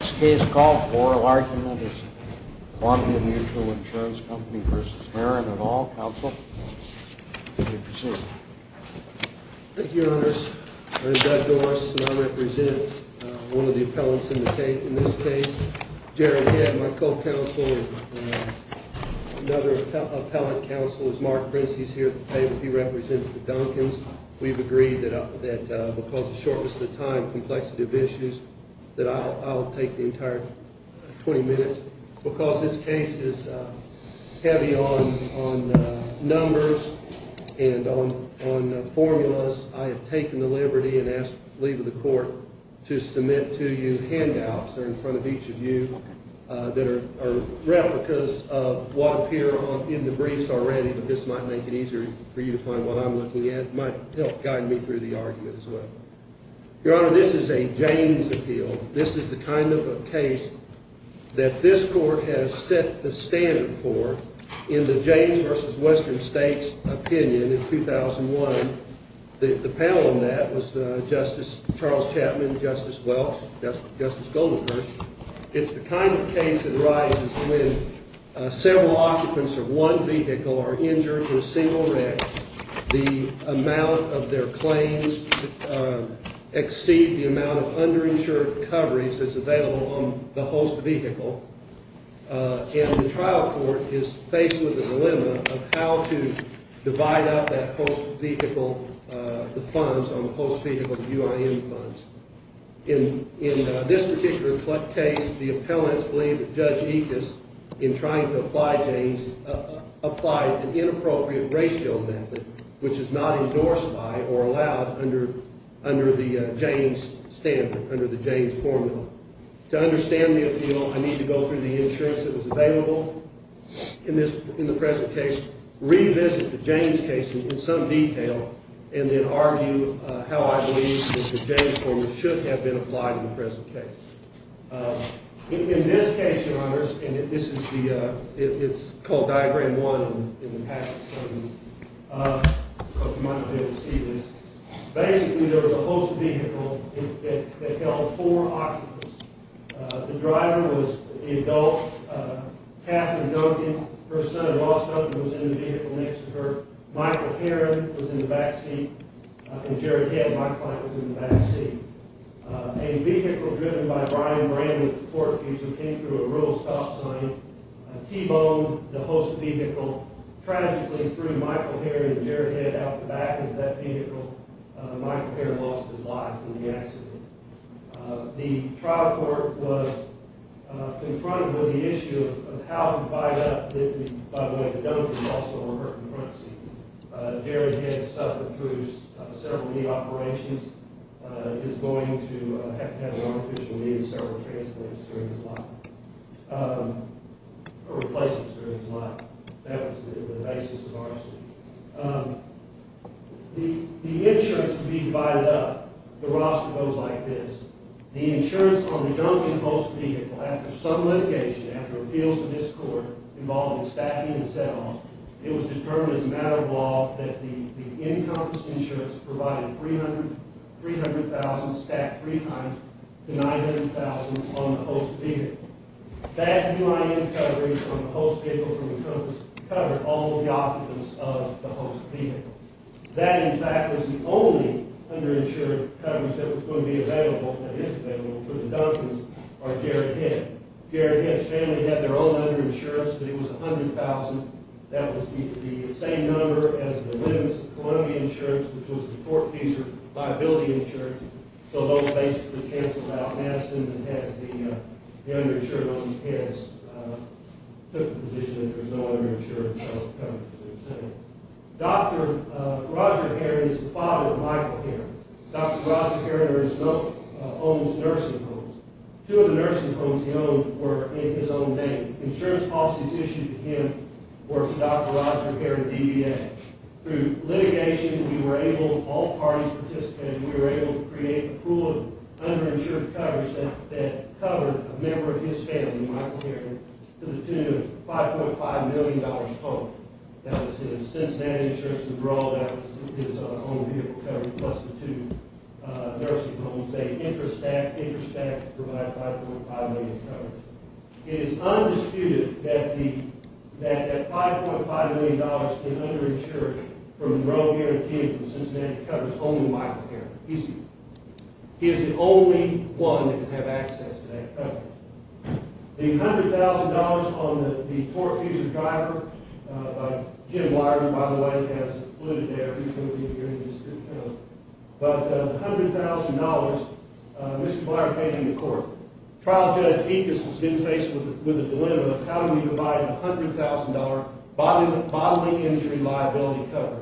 Thank you, Your Honors. I'm Doug Doris, and I represent one of the appellants in the case. In this case, Gerald Head, my co-counsel, and another appellate counsel is Mark Prince. He's here at the table. He represents the Donkins. We've agreed that because it's going to take the entire 20 minutes, because this case is heavy on numbers and on formulas, I have taken the liberty and asked the lead of the court to submit to you handouts. They're in front of each of you that are replicas of what appear in the briefs already, but this might make it easier for you to find what I'm looking at. It might help guide me through the argument as well. Your Honor, this is a Jaynes appeal. This is the kind of a case that this court has set the standard for in the Jaynes v. Western States opinion in 2001. The panel in that was Justice Charles Chapman, Justice Welch, Justice Goldenberg. It's the kind of case that arises when several occupants of one vehicle are injured in a single wreck. The amount of their claims exceed the amount of underinsured coverage that's available on the host vehicle, and the trial court is faced with the dilemma of how to divide up that host vehicle, the funds on the host vehicle, the UIN funds. In this particular case, the appellants believe that Judge Ekus, in trying to apply Jaynes, applied an inappropriate ratio method, which is not endorsed by or allowed under the Jaynes standard, under the Jaynes formula. To understand the appeal, I need to go through the insurance that was available in the present case, revisit the Jaynes case in some detail, and then argue how I believe that the Jaynes formula should have been applied in the present case. In this case, Your Honor, and this is called Diagram 1 in the patent. You might be able to see this. Basically, there was a host vehicle that held four occupants. The driver was an adult. Katharine Duncan, her son-in-law Duncan, was in the vehicle next to her. Michael Heron was in the back seat, and Jerry Head, my client, was in the back seat. A vehicle driven by Brian Rand, who came through a rural stop sign, T-Bone, the host vehicle, tragically threw Michael Heron and Jerry Head out the back of that vehicle. Michael Heron lost his life in the accident. The trial court was confronted with the issue of how to divide up the— by the way, Duncan was also hurt in the front seat. Jerry Head suffered through several knee operations. He's going to have to have an artificial knee and several transplants during his life, or replacements during his life. That was the basis of our suit. The insurance would be divided up. The roster goes like this. The insurance on the Duncan host vehicle, after some litigation, after appeals to this court involving stacking and settling, it was determined as a matter of law that the encompass insurance provided 300,000, stacked three times, to 900,000 on the host vehicle. That new I.N. coverage on the host vehicle from the coast covered all the occupants of the host vehicle. That, in fact, was the only underinsured coverage that was going to be available, that is available for the Duncans, are Jerry Head. Jerry Head's family had their own underinsurance, but it was 100,000. That was the same number as the Williams-Columbia insurance, which was the court-feasored liability insurance. So those basically canceled out Madison and had the underinsured on these heads, took the position that there was no underinsured coverage. Dr. Roger Heron is the father of Michael Heron. Dr. Roger Heron owns nursing homes. Two of the nursing homes he owned were in his own name. Insurance policies issued to him were for Dr. Roger Heron, DBA. Through litigation, we were able, all parties participated, and we were able to create a pool of underinsured coverage that covered a member of his family, Michael Heron, to the tune of $5.5 million home. That was his Cincinnati insurance withdrawal, that was his own vehicle coverage, plus the two nursing homes. They intrastacked, intrastacked to provide $5.5 million coverage. It is undisputed that that $5.5 million in underinsured from Roe, Heron, King, and Cincinnati covers only Michael Heron. He is the only one that can have access to that coverage. The $100,000 on the tort-feasored driver, Jim Wyer, by the way, has it included there. He's going to be appearing in this. But the $100,000, Mr. Wyer came to the court. Trial Judge Ekus was then faced with the dilemma of how do we provide $100,000 bodily injury liability coverage.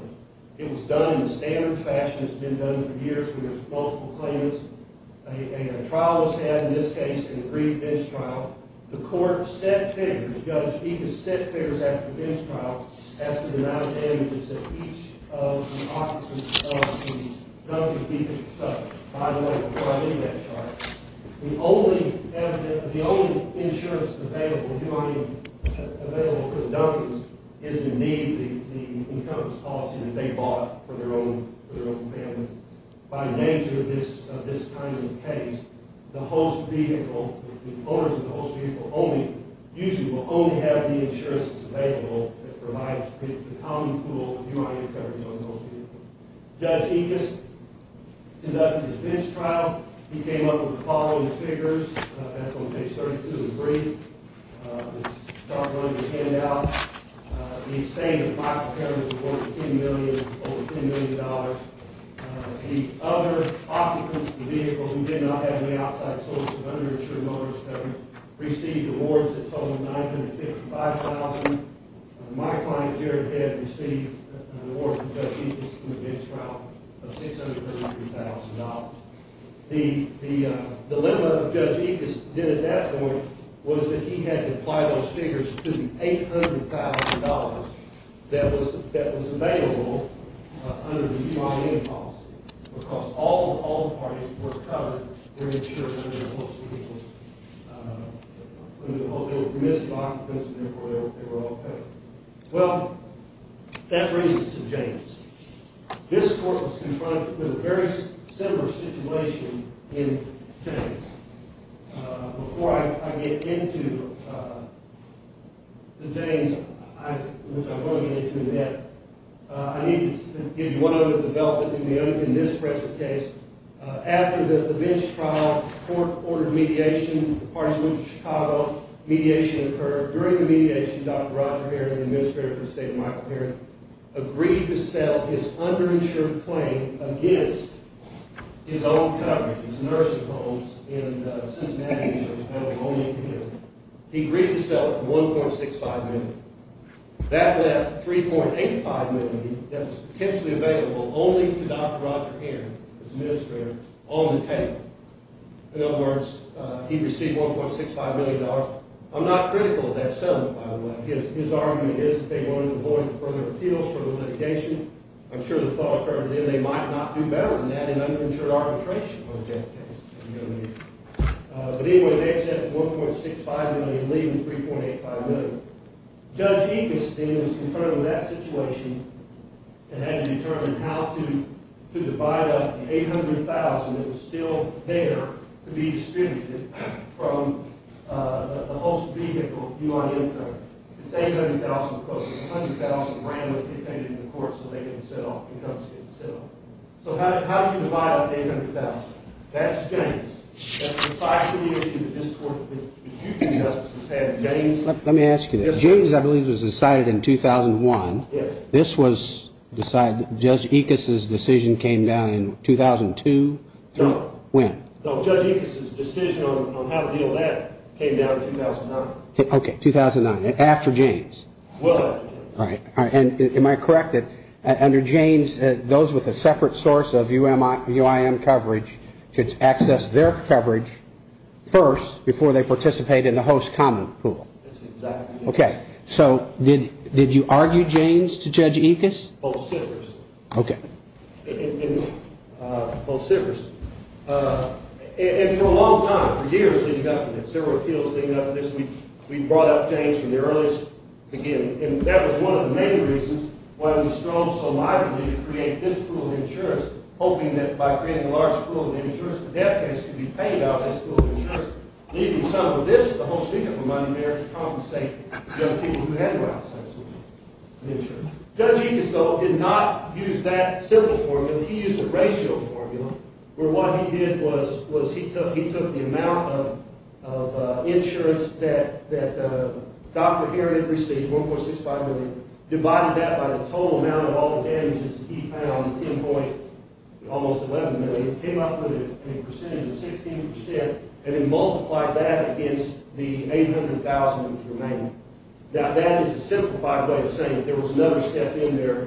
It was done in the standard fashion that's been done for years where there's multiple claims. A trial was had in this case, an aggrieved bench trial. The court set figures, Judge Ekus set figures after the bench trial as to the amount of damages that each of the occupants of the W. Ekus facility by the way provided in that trial. The only insurance available for the Dunkins is indeed the insurance policy that they bought for their own family. By nature of this kind of case, the owners of the host vehicle usually will only have the insurance that's available that provides the common pool of URI coverage on the host vehicle. Judge Ekus conducted his bench trial. He came up with the following figures. That's on page 32 of the brief. It's starting on your handout. The extent of Michael Cameron's reward was $10 million, over $10 million. The other occupants of the vehicle who did not have any outside sources of underinsured motorist coverage received awards that totaled $955,000. My client, Jared Head, received an award from Judge Ekus of $633,000. The dilemma of Judge Ekus then at that point was that he had to apply those figures to the $800,000 that was available under the UIN policy because all the parties were covered. They were insured under the host vehicle. They were missed occupants of the vehicle. They were all covered. Well, that brings us to James. This court was confronted with a very similar situation in James. Before I get into James, which I won't get into yet, I need to give you one other development in this particular case. After the bench trial, the court ordered mediation. The parties went to Chicago. Mediation occurred. During the mediation, Dr. Roger Heron, the administrator for the state of Michael, agreed to sell his underinsured claim against his own coverage, his nursing homes in Cincinnati, New Jersey. That was his only appeal. He agreed to sell it for $1.65 million. That left $3.85 million that was potentially available only to Dr. Roger Heron, his administrator, on the table. In other words, he received $1.65 million. I'm not critical of that settlement, by the way. His argument is that they wanted to avoid further appeals for the litigation. I'm sure the thought occurred then they might not do better than that in underinsured arbitration on that case. But anyway, they accepted $1.65 million, leaving $3.85 million. Judge Eberstein was concerned with that situation and had to determine how to divide up the $800,000 that was still there to be distributed from the host vehicle, U.N. income. It's $800,000, of course. It's $100,000 randomly dictated to the courts so they can settle. So how do you divide up the $800,000? That's James. That's precisely the issue that this Court of Appeals, the huge injustice it's had. Let me ask you this. James, I believe, was decided in 2001. Yes. This was decided, Judge Ickes' decision came down in 2002? No. When? No, Judge Ickes' decision on how to deal with that came down in 2009. Okay, 2009, after James. Well after James. All right. And am I correct that under James, those with a separate source of UIM coverage should access their coverage first before they participate in the host common pool? That's exactly right. Okay. So did you argue James to Judge Ickes? Both sitters. Okay. Both sitters. And for a long time, for years leading up to this, there were appeals leading up to this. We brought up James from the earliest beginning, and that was one of the main reasons why we strove so mightily to create this pool of insurance, hoping that by creating a large pool of insurance, the debt case could be paid out of this pool of insurance, leaving some of this, the whole scheme of it, reminding the mayor to compensate the young people who had to buy insurance. Judge Ickes, though, did not use that simple formula. He used a ratio formula where what he did was he took the amount of insurance that Dr. Herod had received, 1.65 million, divided that by the total amount of all the damages he found, 10.11 million, came up with a percentage of 16%, and then multiplied that against the 800,000 that was remaining. Now, that is a simplified way of saying that there was another step in there.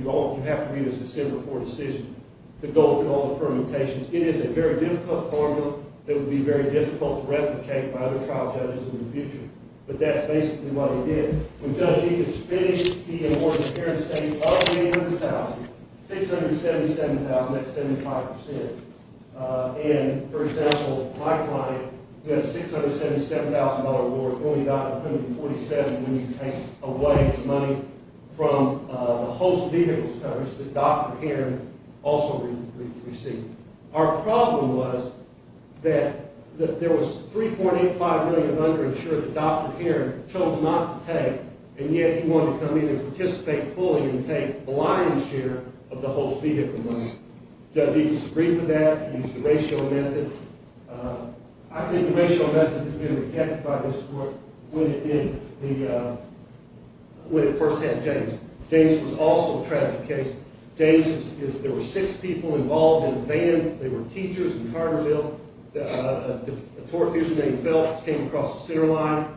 You have to read his December 4 decision, the goal with all the permutations. It is a very difficult formula that would be very difficult to replicate by other trial judges in the future, but that's basically what he did. When Judge Ickes finished, he and Morgan Heron stated, of the 800,000, 677,000, that's 75%. And, for example, my client, who had a 677,000-dollar award, only got 147 when you take away the money from the host vehicle coverage that Dr. Heron also received. Our problem was that there was 3.85 million underinsured that Dr. Heron chose not to pay, and yet he wanted to come in and participate fully and take the lion's share of the host vehicle money. Judge Ickes agreed with that. He used the ratio method. I think the ratio method has been rejected by this court when it first had James. James was also a tragic case. There were six people involved in the van. They were teachers in Carterville. A tour business named Phelps came across the center line,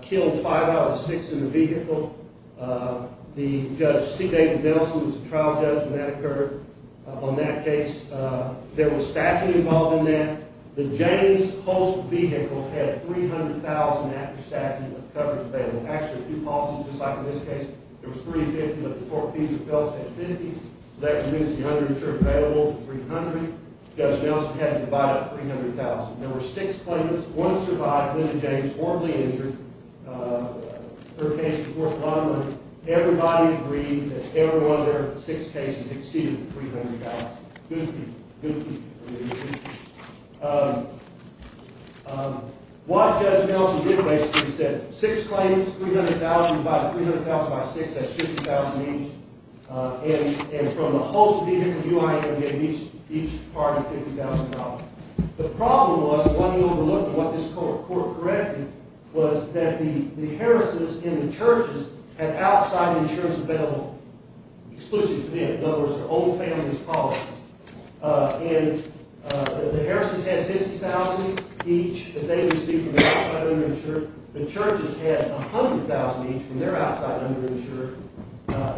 killed five out of the six in the vehicle. Judge C. David Nelson was the trial judge when that occurred on that case. There was staffing involved in that. The James host vehicle had 300,000 after-staffing coverage available. Actually, a few policies, just like in this case, there was 350, but the court fees of Phelps had 50, so that reduced the underinsured payable to 300. Judge Nelson had to divide up 300,000. There were six claimants. One survived, Linda James, horribly injured. Her case was worth a lot of money. Everybody agreed that every one of their six cases exceeded 300,000. Good people. Good people. What Judge Nelson did, basically, is set six claims, 300,000 by 300,000 by six. That's 50,000 each. And from the host vehicle, you and I had to get each part of $50,000. The problem was, what he overlooked, and what this court corrected, was that the Harrisons in the churches had outside insurance available exclusively to them. In other words, their own family's policy. The Harrisons had 50,000 each that they received from the outside underinsured. The churches had 100,000 each from their outside underinsured.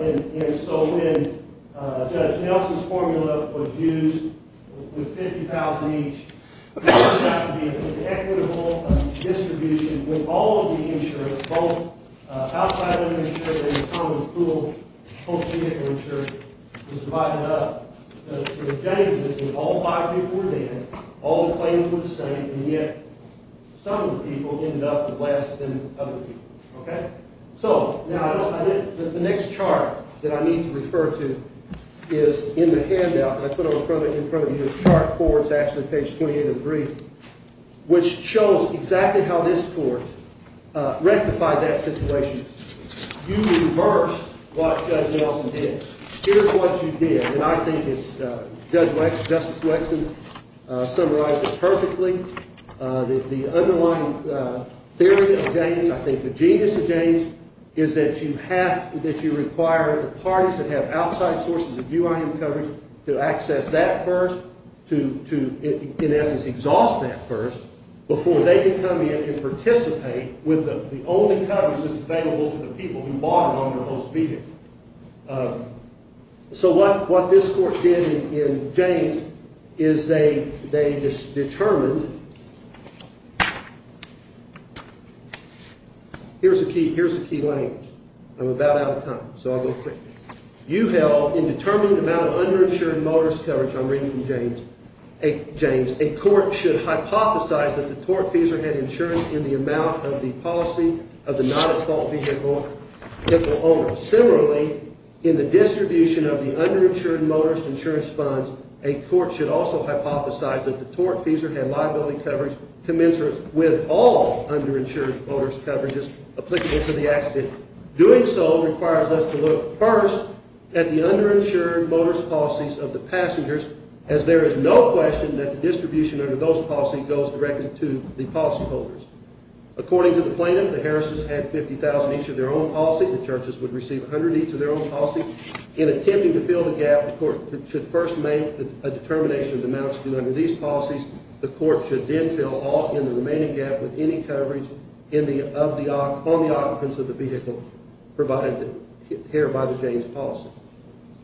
And so when Judge Nelson's formula was used with 50,000 each, there turned out to be an inequitable distribution with all of the insurance, both outside underinsured and the common pool host vehicle insurance was divided up. All five people were there, all the claims were the same, and yet some of the people ended up less than other people. So, the next chart that I need to refer to is in the handout. I put it in front of you. This chart, it's actually page 28 of the brief, which shows exactly how this court rectified that situation. You reversed what Judge Nelson did. Here's what you did, and I think Justice Lexen summarized it perfectly. The underlying theory of Janes, I think the genius of Janes, is that you require the parties that have outside sources of UIM coverage to access that first, to in essence exhaust that first, before they can come in and participate with the only coverage that's available to the people who bought it on their host vehicle. So, what this court did in Janes is they determined... Here's the key language. I'm about out of time, so I'll go quickly. You held, in determining the amount of underinsured motorist coverage, I'm reading from Janes, a court should hypothesize that the tortfeasor had insurance in the amount of the policy of the not-at-fault vehicle owner. Similarly, in the distribution of the underinsured motorist insurance funds, a court should also hypothesize that the tortfeasor had liability coverage commensurate with all underinsured motorist coverages applicable to the accident. Doing so requires us to look first at the underinsured motorist policies of the passengers, as there is no question that the distribution under those policies goes directly to the policyholders. According to the plaintiff, the Harris's had $50,000 each of their own policy. The churches would receive $100 each of their own policy. In attempting to fill the gap, the court should first make a determination of the amounts due under these policies. The court should then fill all in the remaining gap with any coverage on the occupants of the vehicle provided here by the Janes policy.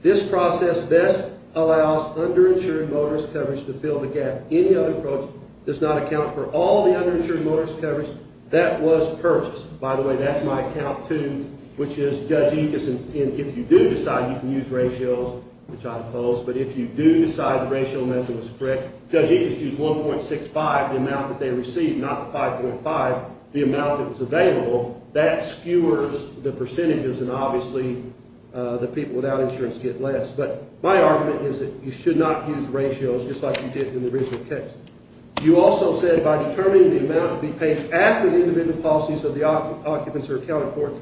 This process best allows underinsured motorist coverage to fill the gap. Any other approach does not account for all the underinsured motorist coverage that was purchased. By the way, that's my account, too, which is Judge Ickes, and if you do decide you can use ratios, which I oppose, but if you do decide the ratio method was correct, Judge Ickes used 1.65, the amount that they received, not the 5.5, the amount that was available. That skewers the percentages, and obviously the people without insurance get less. But my argument is that you should not use ratios just like you did in the original case. You also said by determining the amount to be paid after the individual policies of the occupants are accounted for,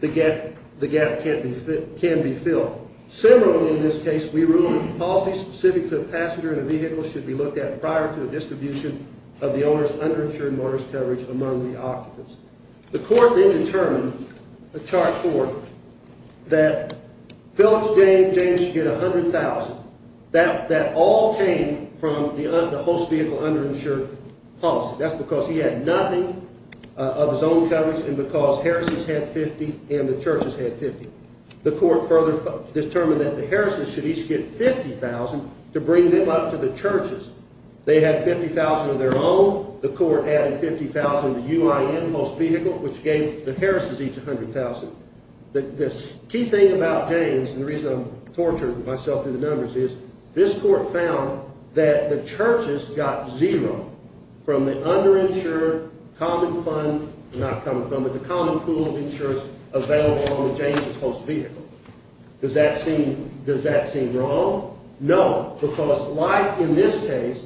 the gap can be filled. Similarly, in this case, we ruled that policies specific to the passenger in a vehicle should be looked at prior to the distribution of the owner's underinsured motorist coverage among the occupants. The court then determined, in Chart 4, that Phillips, Jane, and James should get $100,000. That all came from the host vehicle underinsured policy. That's because he had nothing of his own coverage, and because Harris's had $50,000 and the Church's had $50,000. The court further determined that the Harris's should each get $50,000 to bring them up to the Church's. They had $50,000 of their own. The court added $50,000 to the UIN host vehicle, which gave the Harris's each $100,000. The key thing about James, and the reason I'm torturing myself through the numbers, is this court found that the Church's got zero from the underinsured common fund, not common fund, but the common pool of insurers available on the James's host vehicle. Does that seem wrong? No, because like in this case,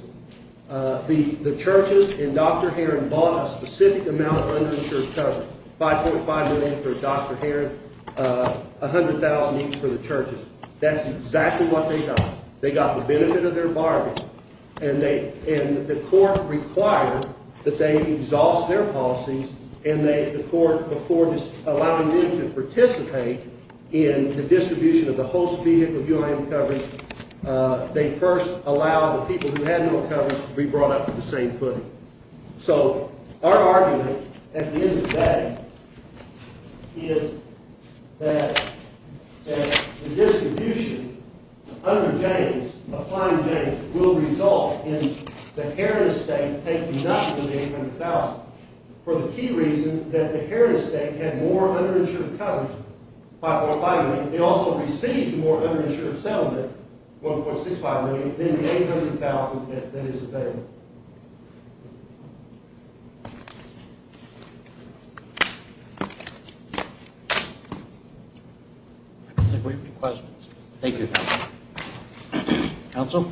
the Church's and Dr. Heron bought a specific amount of underinsured coverage, $5.5 million for Dr. Heron, $100,000 each for the Church's. That's exactly what they got. They got the benefit of their bargain, and the court required that they exhaust their policies, and the court, before allowing them to participate in the distribution of the host vehicle UIN coverage, they first allow the people who had no coverage to be brought up to the same footing. Our argument at the end of the day is that the distribution under James, applying James, will result in the Harris estate taking up to the $800,000 for the key reason that the Harris estate had more underinsured coverage, $5.5 million. They also received more underinsured settlement, $1.65 million, than the $800,000 that is available. Those are great requests. Thank you. Counsel?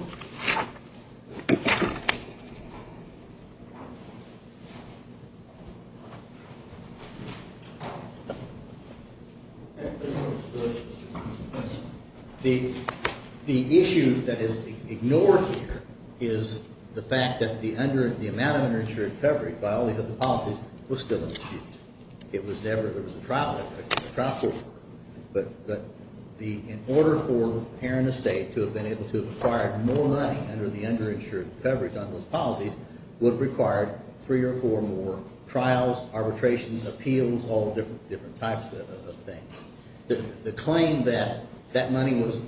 The issue that is ignored here is the fact that the amount of underinsured coverage, by all these other policies, was still in dispute. There was a trial for it, but in order for Heron Estate to have been able to acquire more money under the underinsured coverage on those policies, would have required three or four more trials, arbitrations, appeals, all different types of things. The claim that that money was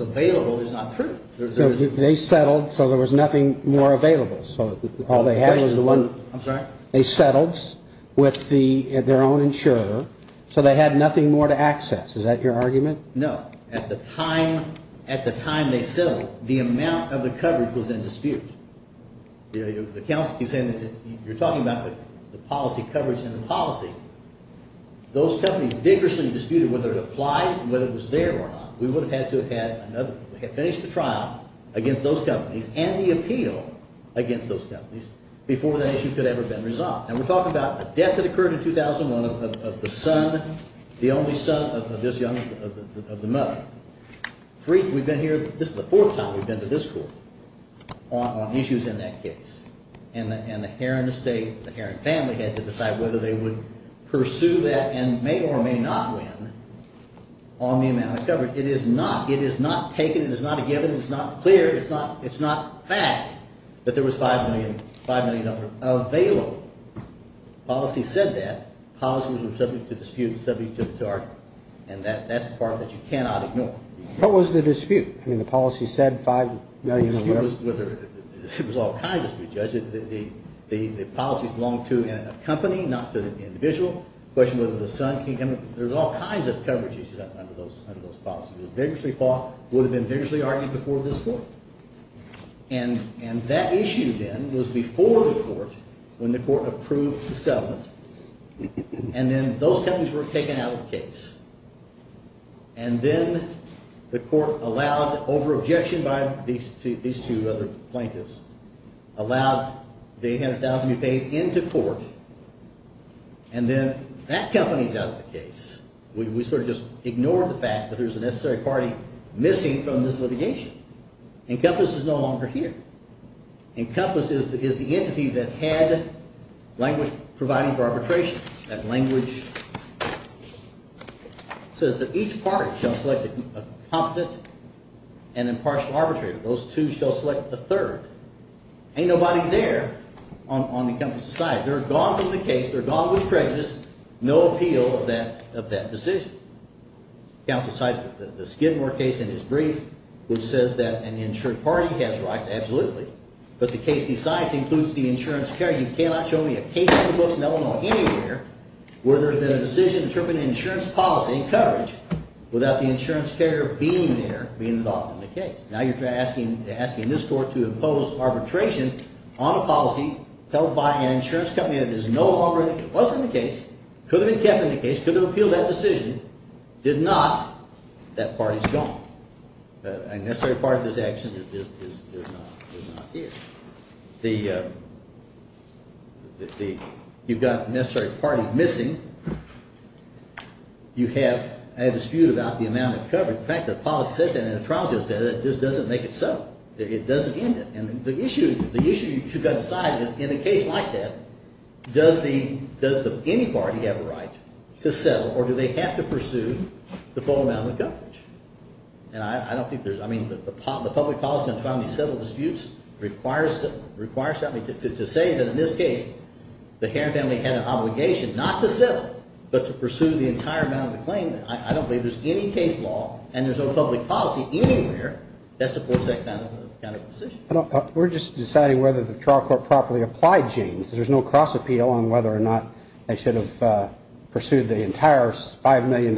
available is not true. They settled so there was nothing more available. I'm sorry? They settled with their own insurer, so they had nothing more to access. Is that your argument? No. At the time they settled, the amount of the coverage was in dispute. You're talking about the policy coverage and the policy. Those companies vigorously disputed whether it applied, whether it was there or not. We would have had to have finished the trial against those companies and the appeal against those companies before that issue could have ever been resolved. And we're talking about a death that occurred in 2001 of the son, the only son of this young, of the mother. We've been here, this is the fourth time we've been to this court on issues in that case. And the Heron Estate, the Heron family had to decide whether they would pursue that and may or may not win on the amount of coverage. It is not taken, it is not a given, it is not clear, it's not fact that there was $5 million available. Policy said that. Policy was subject to dispute, subject to argument. And that's the part that you cannot ignore. What was the dispute? I mean, the policy said $5 million. It was all kinds of disputes, Judge. The policy belonged to a company, not to the individual. The question was whether the son came in. There was all kinds of coverage issues under those policies. It was vigorously fought, would have been vigorously argued before this court. And that issue, then, was before the court when the court approved this settlement. And then those companies were taken out of the case. And then the court, over objection by these two other plaintiffs, allowed the $800,000 to be paid into court. And then that company's out of the case. We sort of just ignored the fact that there's a necessary party missing from this litigation. Encompass is no longer here. Encompass is the entity that had language providing for arbitration. That language says that each party shall select a competent and impartial arbitrator. Those two shall select the third. Ain't nobody there on Encompass's side. They're gone from the case. They're gone with prejudice. No appeal of that decision. Counsel cited the Skidmore case in his brief, which says that an insured party has rights, absolutely. But the case, he cites, includes the insurance carrier. You cannot show me a case in the books in Illinois anywhere where there's been a decision interpreting insurance policy and coverage without the insurance carrier being there, being involved in the case. Now you're asking this court to impose arbitration on a policy held by an insurance company that is no longer in the case, was in the case, could have been kept in the case, could have appealed that decision. Did not. That party's gone. A necessary part of this action is not here. You've got a necessary party missing. You have a dispute about the amount of coverage. In fact, the policy says that and the trial just said it. It just doesn't make it so. It doesn't end it. And the issue you've got to decide is, in a case like that, does any party have a right to settle, or do they have to pursue the full amount of coverage? And I don't think there's, I mean, the public policy in trying to settle disputes requires something. To say that in this case, the Herron family had an obligation not to settle but to pursue the entire amount of the claim, I don't believe there's any case law and there's no public policy anywhere that supports that kind of position. We're just deciding whether the trial court properly applied, James. There's no cross-appeal on whether or not they should have pursued the entire $5 million.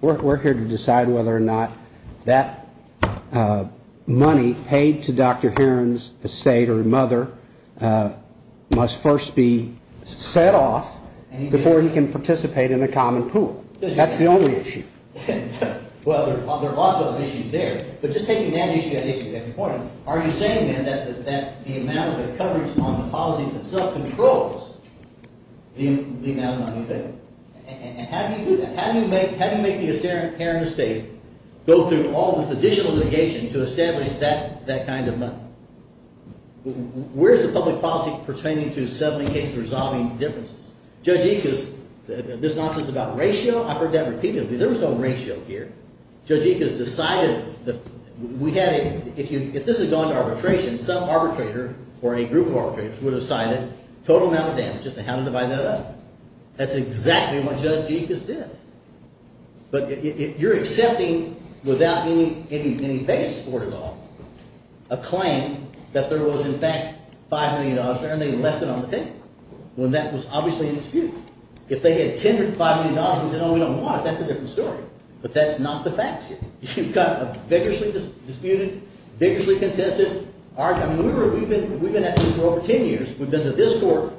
We're here to decide whether or not that money paid to Dr. Herron's estate or mother must first be set off before he can participate in a common pool. That's the only issue. Well, there are lots of other issues there. But just taking that issue, I think you get the point. Are you saying, then, that the amount of coverage on the policies themselves controls the amount of money paid? And how do you do that? How do you make the Herron estate go through all this additional litigation to establish that kind of money? Where's the public policy pertaining to settling cases and resolving differences? Judge Ickes, this nonsense about ratio, I've heard that repeatedly. There was no ratio here. Judge Ickes decided that if this had gone to arbitration, some arbitrator or a group of arbitrators would have decided total amount of damage as to how to divide that up. That's exactly what Judge Ickes did. But you're accepting, without any basis for it at all, a claim that there was, in fact, $5 million there, and they left it on the table, when that was obviously a dispute. If they had tendered $5 million and said, oh, we don't want it, that's a different story. But that's not the facts yet. You've got a vigorously disputed, vigorously contested argument. We've been at this for over 10 years. We've been to this court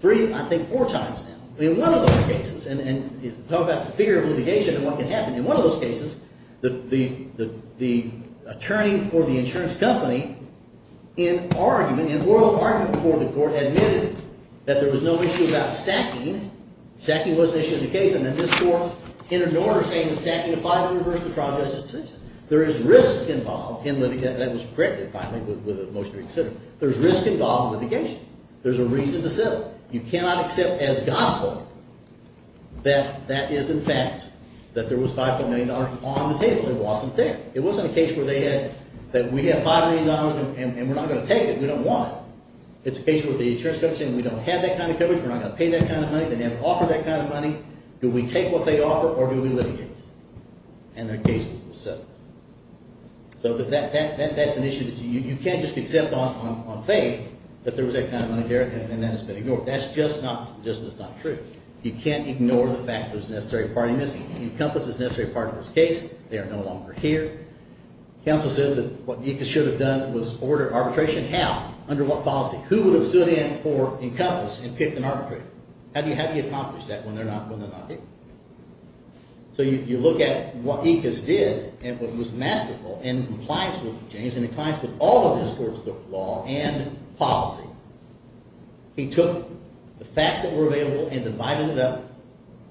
three, I think, four times now. In one of those cases, and talk about the fear of litigation and what can happen. In one of those cases, the attorney for the insurance company, in argument, in oral argument before the court, admitted that there was no issue about stacking. Sacking was an issue in the case, and then this court, in an order, saying stacking of $500 versus the trial judge's decision. There is risk involved in litigation. That was corrected, finally, with a motion to reconsider. There's risk involved in litigation. There's a reason to settle. You cannot accept as gospel that that is, in fact, that there was $5 million on the table. It wasn't there. It wasn't a case where they had, that we have $5 million, and we're not going to take it. We don't want it. It's a case where the insurance company is saying, we don't have that kind of coverage. We're not going to pay that kind of money. They never offered that kind of money. Do we take what they offer, or do we litigate? And their case was settled. So that's an issue that you can't just accept on faith that there was that kind of money there, and that has been ignored. That's just not true. You can't ignore the fact that there's a necessary part in this. Encompass is a necessary part of this case. They are no longer here. Counsel says that what Nika should have done was order arbitration. How? Under what policy? Who would have stood in for Encompass and picked an arbitrator? How do you accomplish that when they're not here? So you look at what Nika did and what was masterful in compliance with James and in compliance with all of his court's law and policy. He took the facts that were available and divided it up.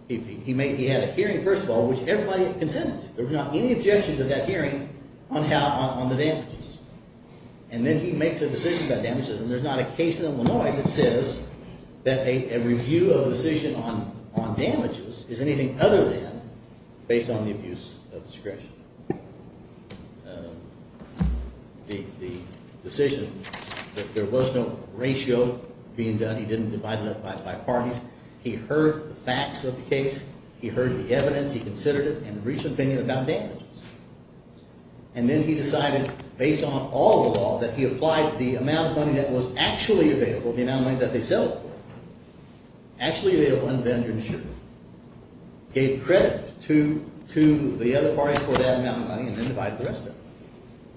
He had a hearing, first of all, which everybody consented to. There was not any objection to that hearing on the damages. And then he makes a decision about damages. And there's not a case in Illinois that says that a review of a decision on damages is anything other than based on the abuse of discretion. The decision that there was no ratio being done. He didn't divide it up by parties. He heard the facts of the case. He heard the evidence. He considered it and reached an opinion about damages. And then he decided, based on all the law that he applied, the amount of money that was actually available, the amount of money that they settled for, actually available under the insurance, gave credit to the other parties for that amount of money, and then divided the rest up.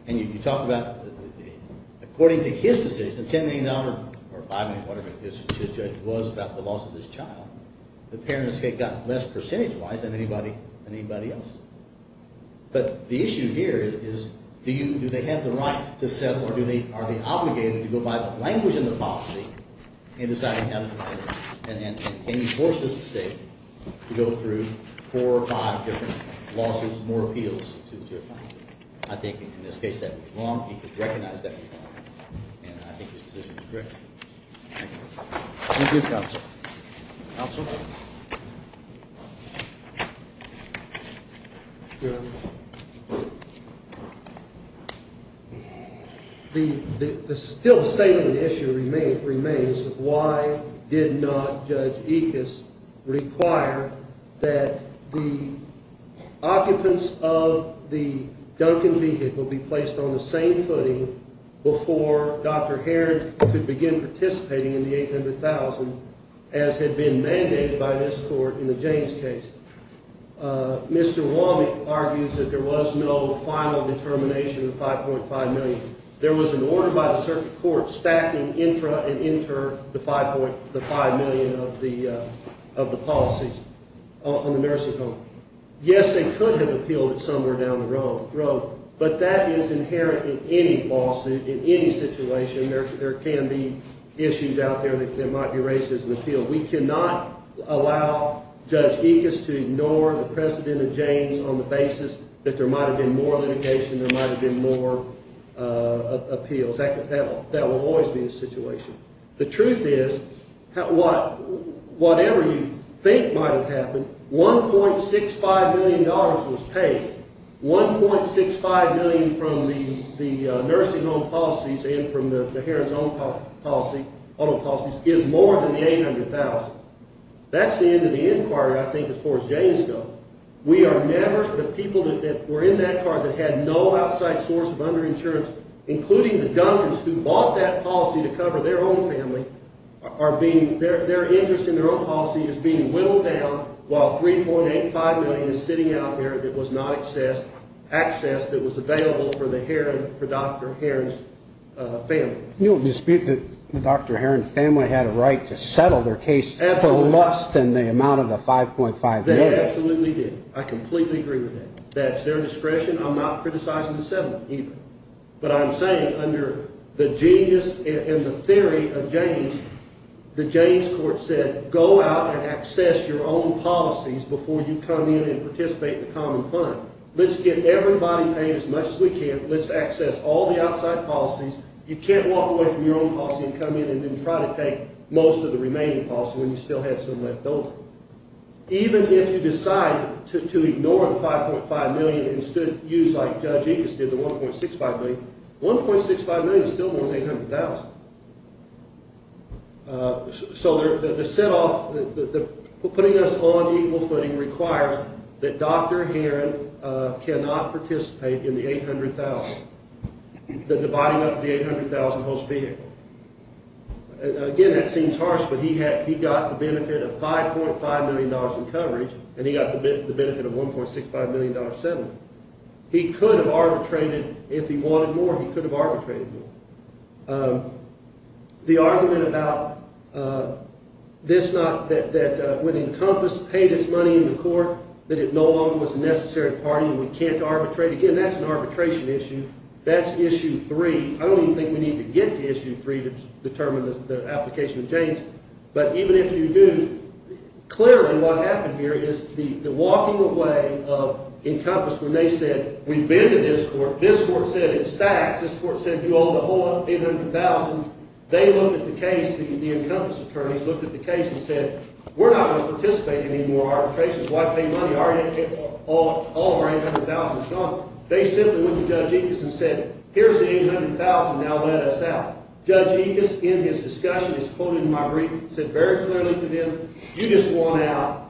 And you talk about, according to his decision, the $10 million or $5 million, whatever his judgment was, about the loss of his child, the parent escape got less percentage-wise than anybody else. But the issue here is, do they have the right to settle, or are they obligated to go by the language in the policy in deciding how to do it? And can you force this estate to go through four or five different lawsuits, more appeals to the two of them? I think, in this case, that was wrong. He could recognize that was wrong. And I think his decision was correct. Thank you. Thank you, Counsel. Counsel? The still-standing issue remains of why did not Judge Ickes require that the occupants of the Duncan vehicle be placed on the same footing before Dr. Heron could begin participating in the $800,000, as had been mandated by this Court in the James case? Mr. Womack argues that there was no final determination of $5.5 million. There was an order by the circuit court stacking intra and inter the $5 million of the policies on the nursing home. Yes, they could have appealed it somewhere down the road, but that is inherent in any lawsuit, in any situation. There can be issues out there that might be raised as an appeal. We cannot allow Judge Ickes to ignore the precedent of James on the basis that there might have been more litigation, there might have been more appeals. That will always be the situation. The truth is, whatever you think might have happened, $1.65 million was paid. $1.65 million from the nursing home policies and from the Heron's own policies is more than the $800,000. That's the end of the inquiry, I think, as far as James goes. We are never, the people that were in that car that had no outside source of under-insurance, including the Duncans who bought that policy to cover their own family, their interest in their own policy is being whittled down while $3.85 million is sitting out there that was not access, access that was available for the Heron, for Dr. Heron's family. You don't dispute that Dr. Heron's family had a right to settle their case for less than the amount of the $5.5 million. They absolutely did. I completely agree with that. That's their discretion. I'm not criticizing the settlement either. But I'm saying under the genius and the theory of James, the James court said, go out and access your own policies before you come in and participate in the common fund. Let's get everybody paid as much as we can. Let's access all the outside policies. You can't walk away from your own policy and come in and then try to take most of the remaining policy when you still have some left over. Even if you decide to ignore the $5.5 million and instead use, like Judge Incas did, the $1.65 million, $1.65 million is still more than $800,000. So the set off, putting us on equal footing requires that Dr. Heron cannot participate in the $800,000, the dividing up of the $800,000 host vehicle. Again, that seems harsh, but he got the benefit of $5.5 million in coverage and he got the benefit of $1.65 million settlement. He could have arbitrated if he wanted more. He could have arbitrated more. The argument about this not, that when Encompass paid its money in the court that it no longer was a necessary party and we can't arbitrate, again, that's an arbitration issue. That's issue three. I don't even think we need to get to issue three to determine the application of James, but even if you do, clearly what happened here is the walking away of Encompass when they said, we've been to this court, this court said it's taxed, this court said you owe the whole $800,000. They looked at the case, the Encompass attorneys looked at the case and said, we're not going to participate in any more arbitrations. Why pay money? All our $800,000 is gone. They simply went to Judge Incas and said, here's the $800,000, now let us out. Judge Incas, in his discussion, he's quoted in my brief, said very clearly to them, you just want out.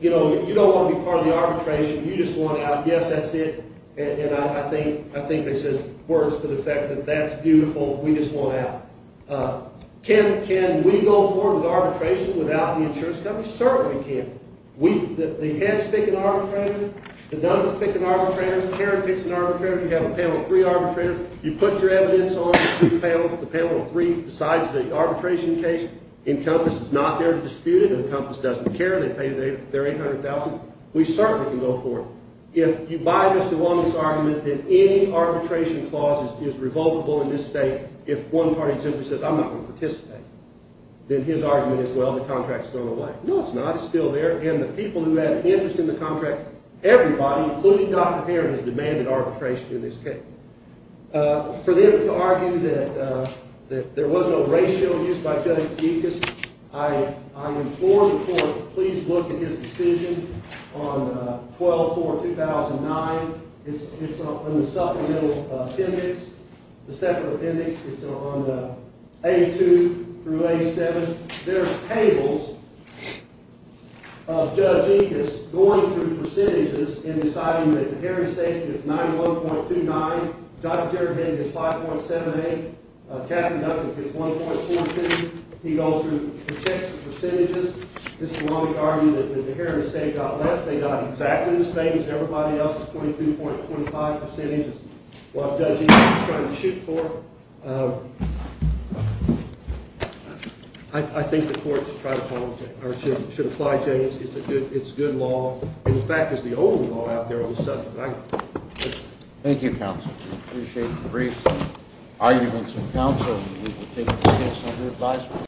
You don't want to be part of the arbitration. You just want out. Yes, that's it. And I think they said words to the effect that that's beautiful. We just want out. Can we go forward with arbitration without the insurance company? Certainly we can. The heads pick an arbitrator, the numbers pick an arbitrator, Karen picks an arbitrator, you have a panel of three arbitrators, you put your evidence on the two panels, the panel of three decides the arbitration case. Encompass is not there to dispute it. Encompass doesn't care. They pay their $800,000. We certainly can go forward. If you buy Mr. Wong's argument that any arbitration clause is revocable in this state, if one party simply says, I'm not going to participate, then his argument is, well, the contract's thrown away. No, it's not. It's still there. And the people who had an interest in the contract, everybody, including Dr. Heron, has demanded arbitration in this case. For them to argue that there was no racial abuse by Judge Yicus, I implore the court to please look at his decision on 12-4-2009. It's in the supplemental appendix. The supplemental appendix is on A2 through A7. There are tables of Judge Yicus going through percentages in deciding that the Heron estate gets 91.29, Dr. Geragate gets 5.78, Captain Duncan gets 1.42. He goes through the checks of percentages. Mr. Wong has argued that the Heron estate got less. They got exactly the same as everybody else, 22.25 percentages. While Judge Yicus is trying to shoot for it, I think the court should try to apologize or should apply James. It's a good law. In fact, it's the only law out there on the subject. Thank you. Thank you, counsel. I appreciate the brief arguments from counsel. We will take the case under advisement.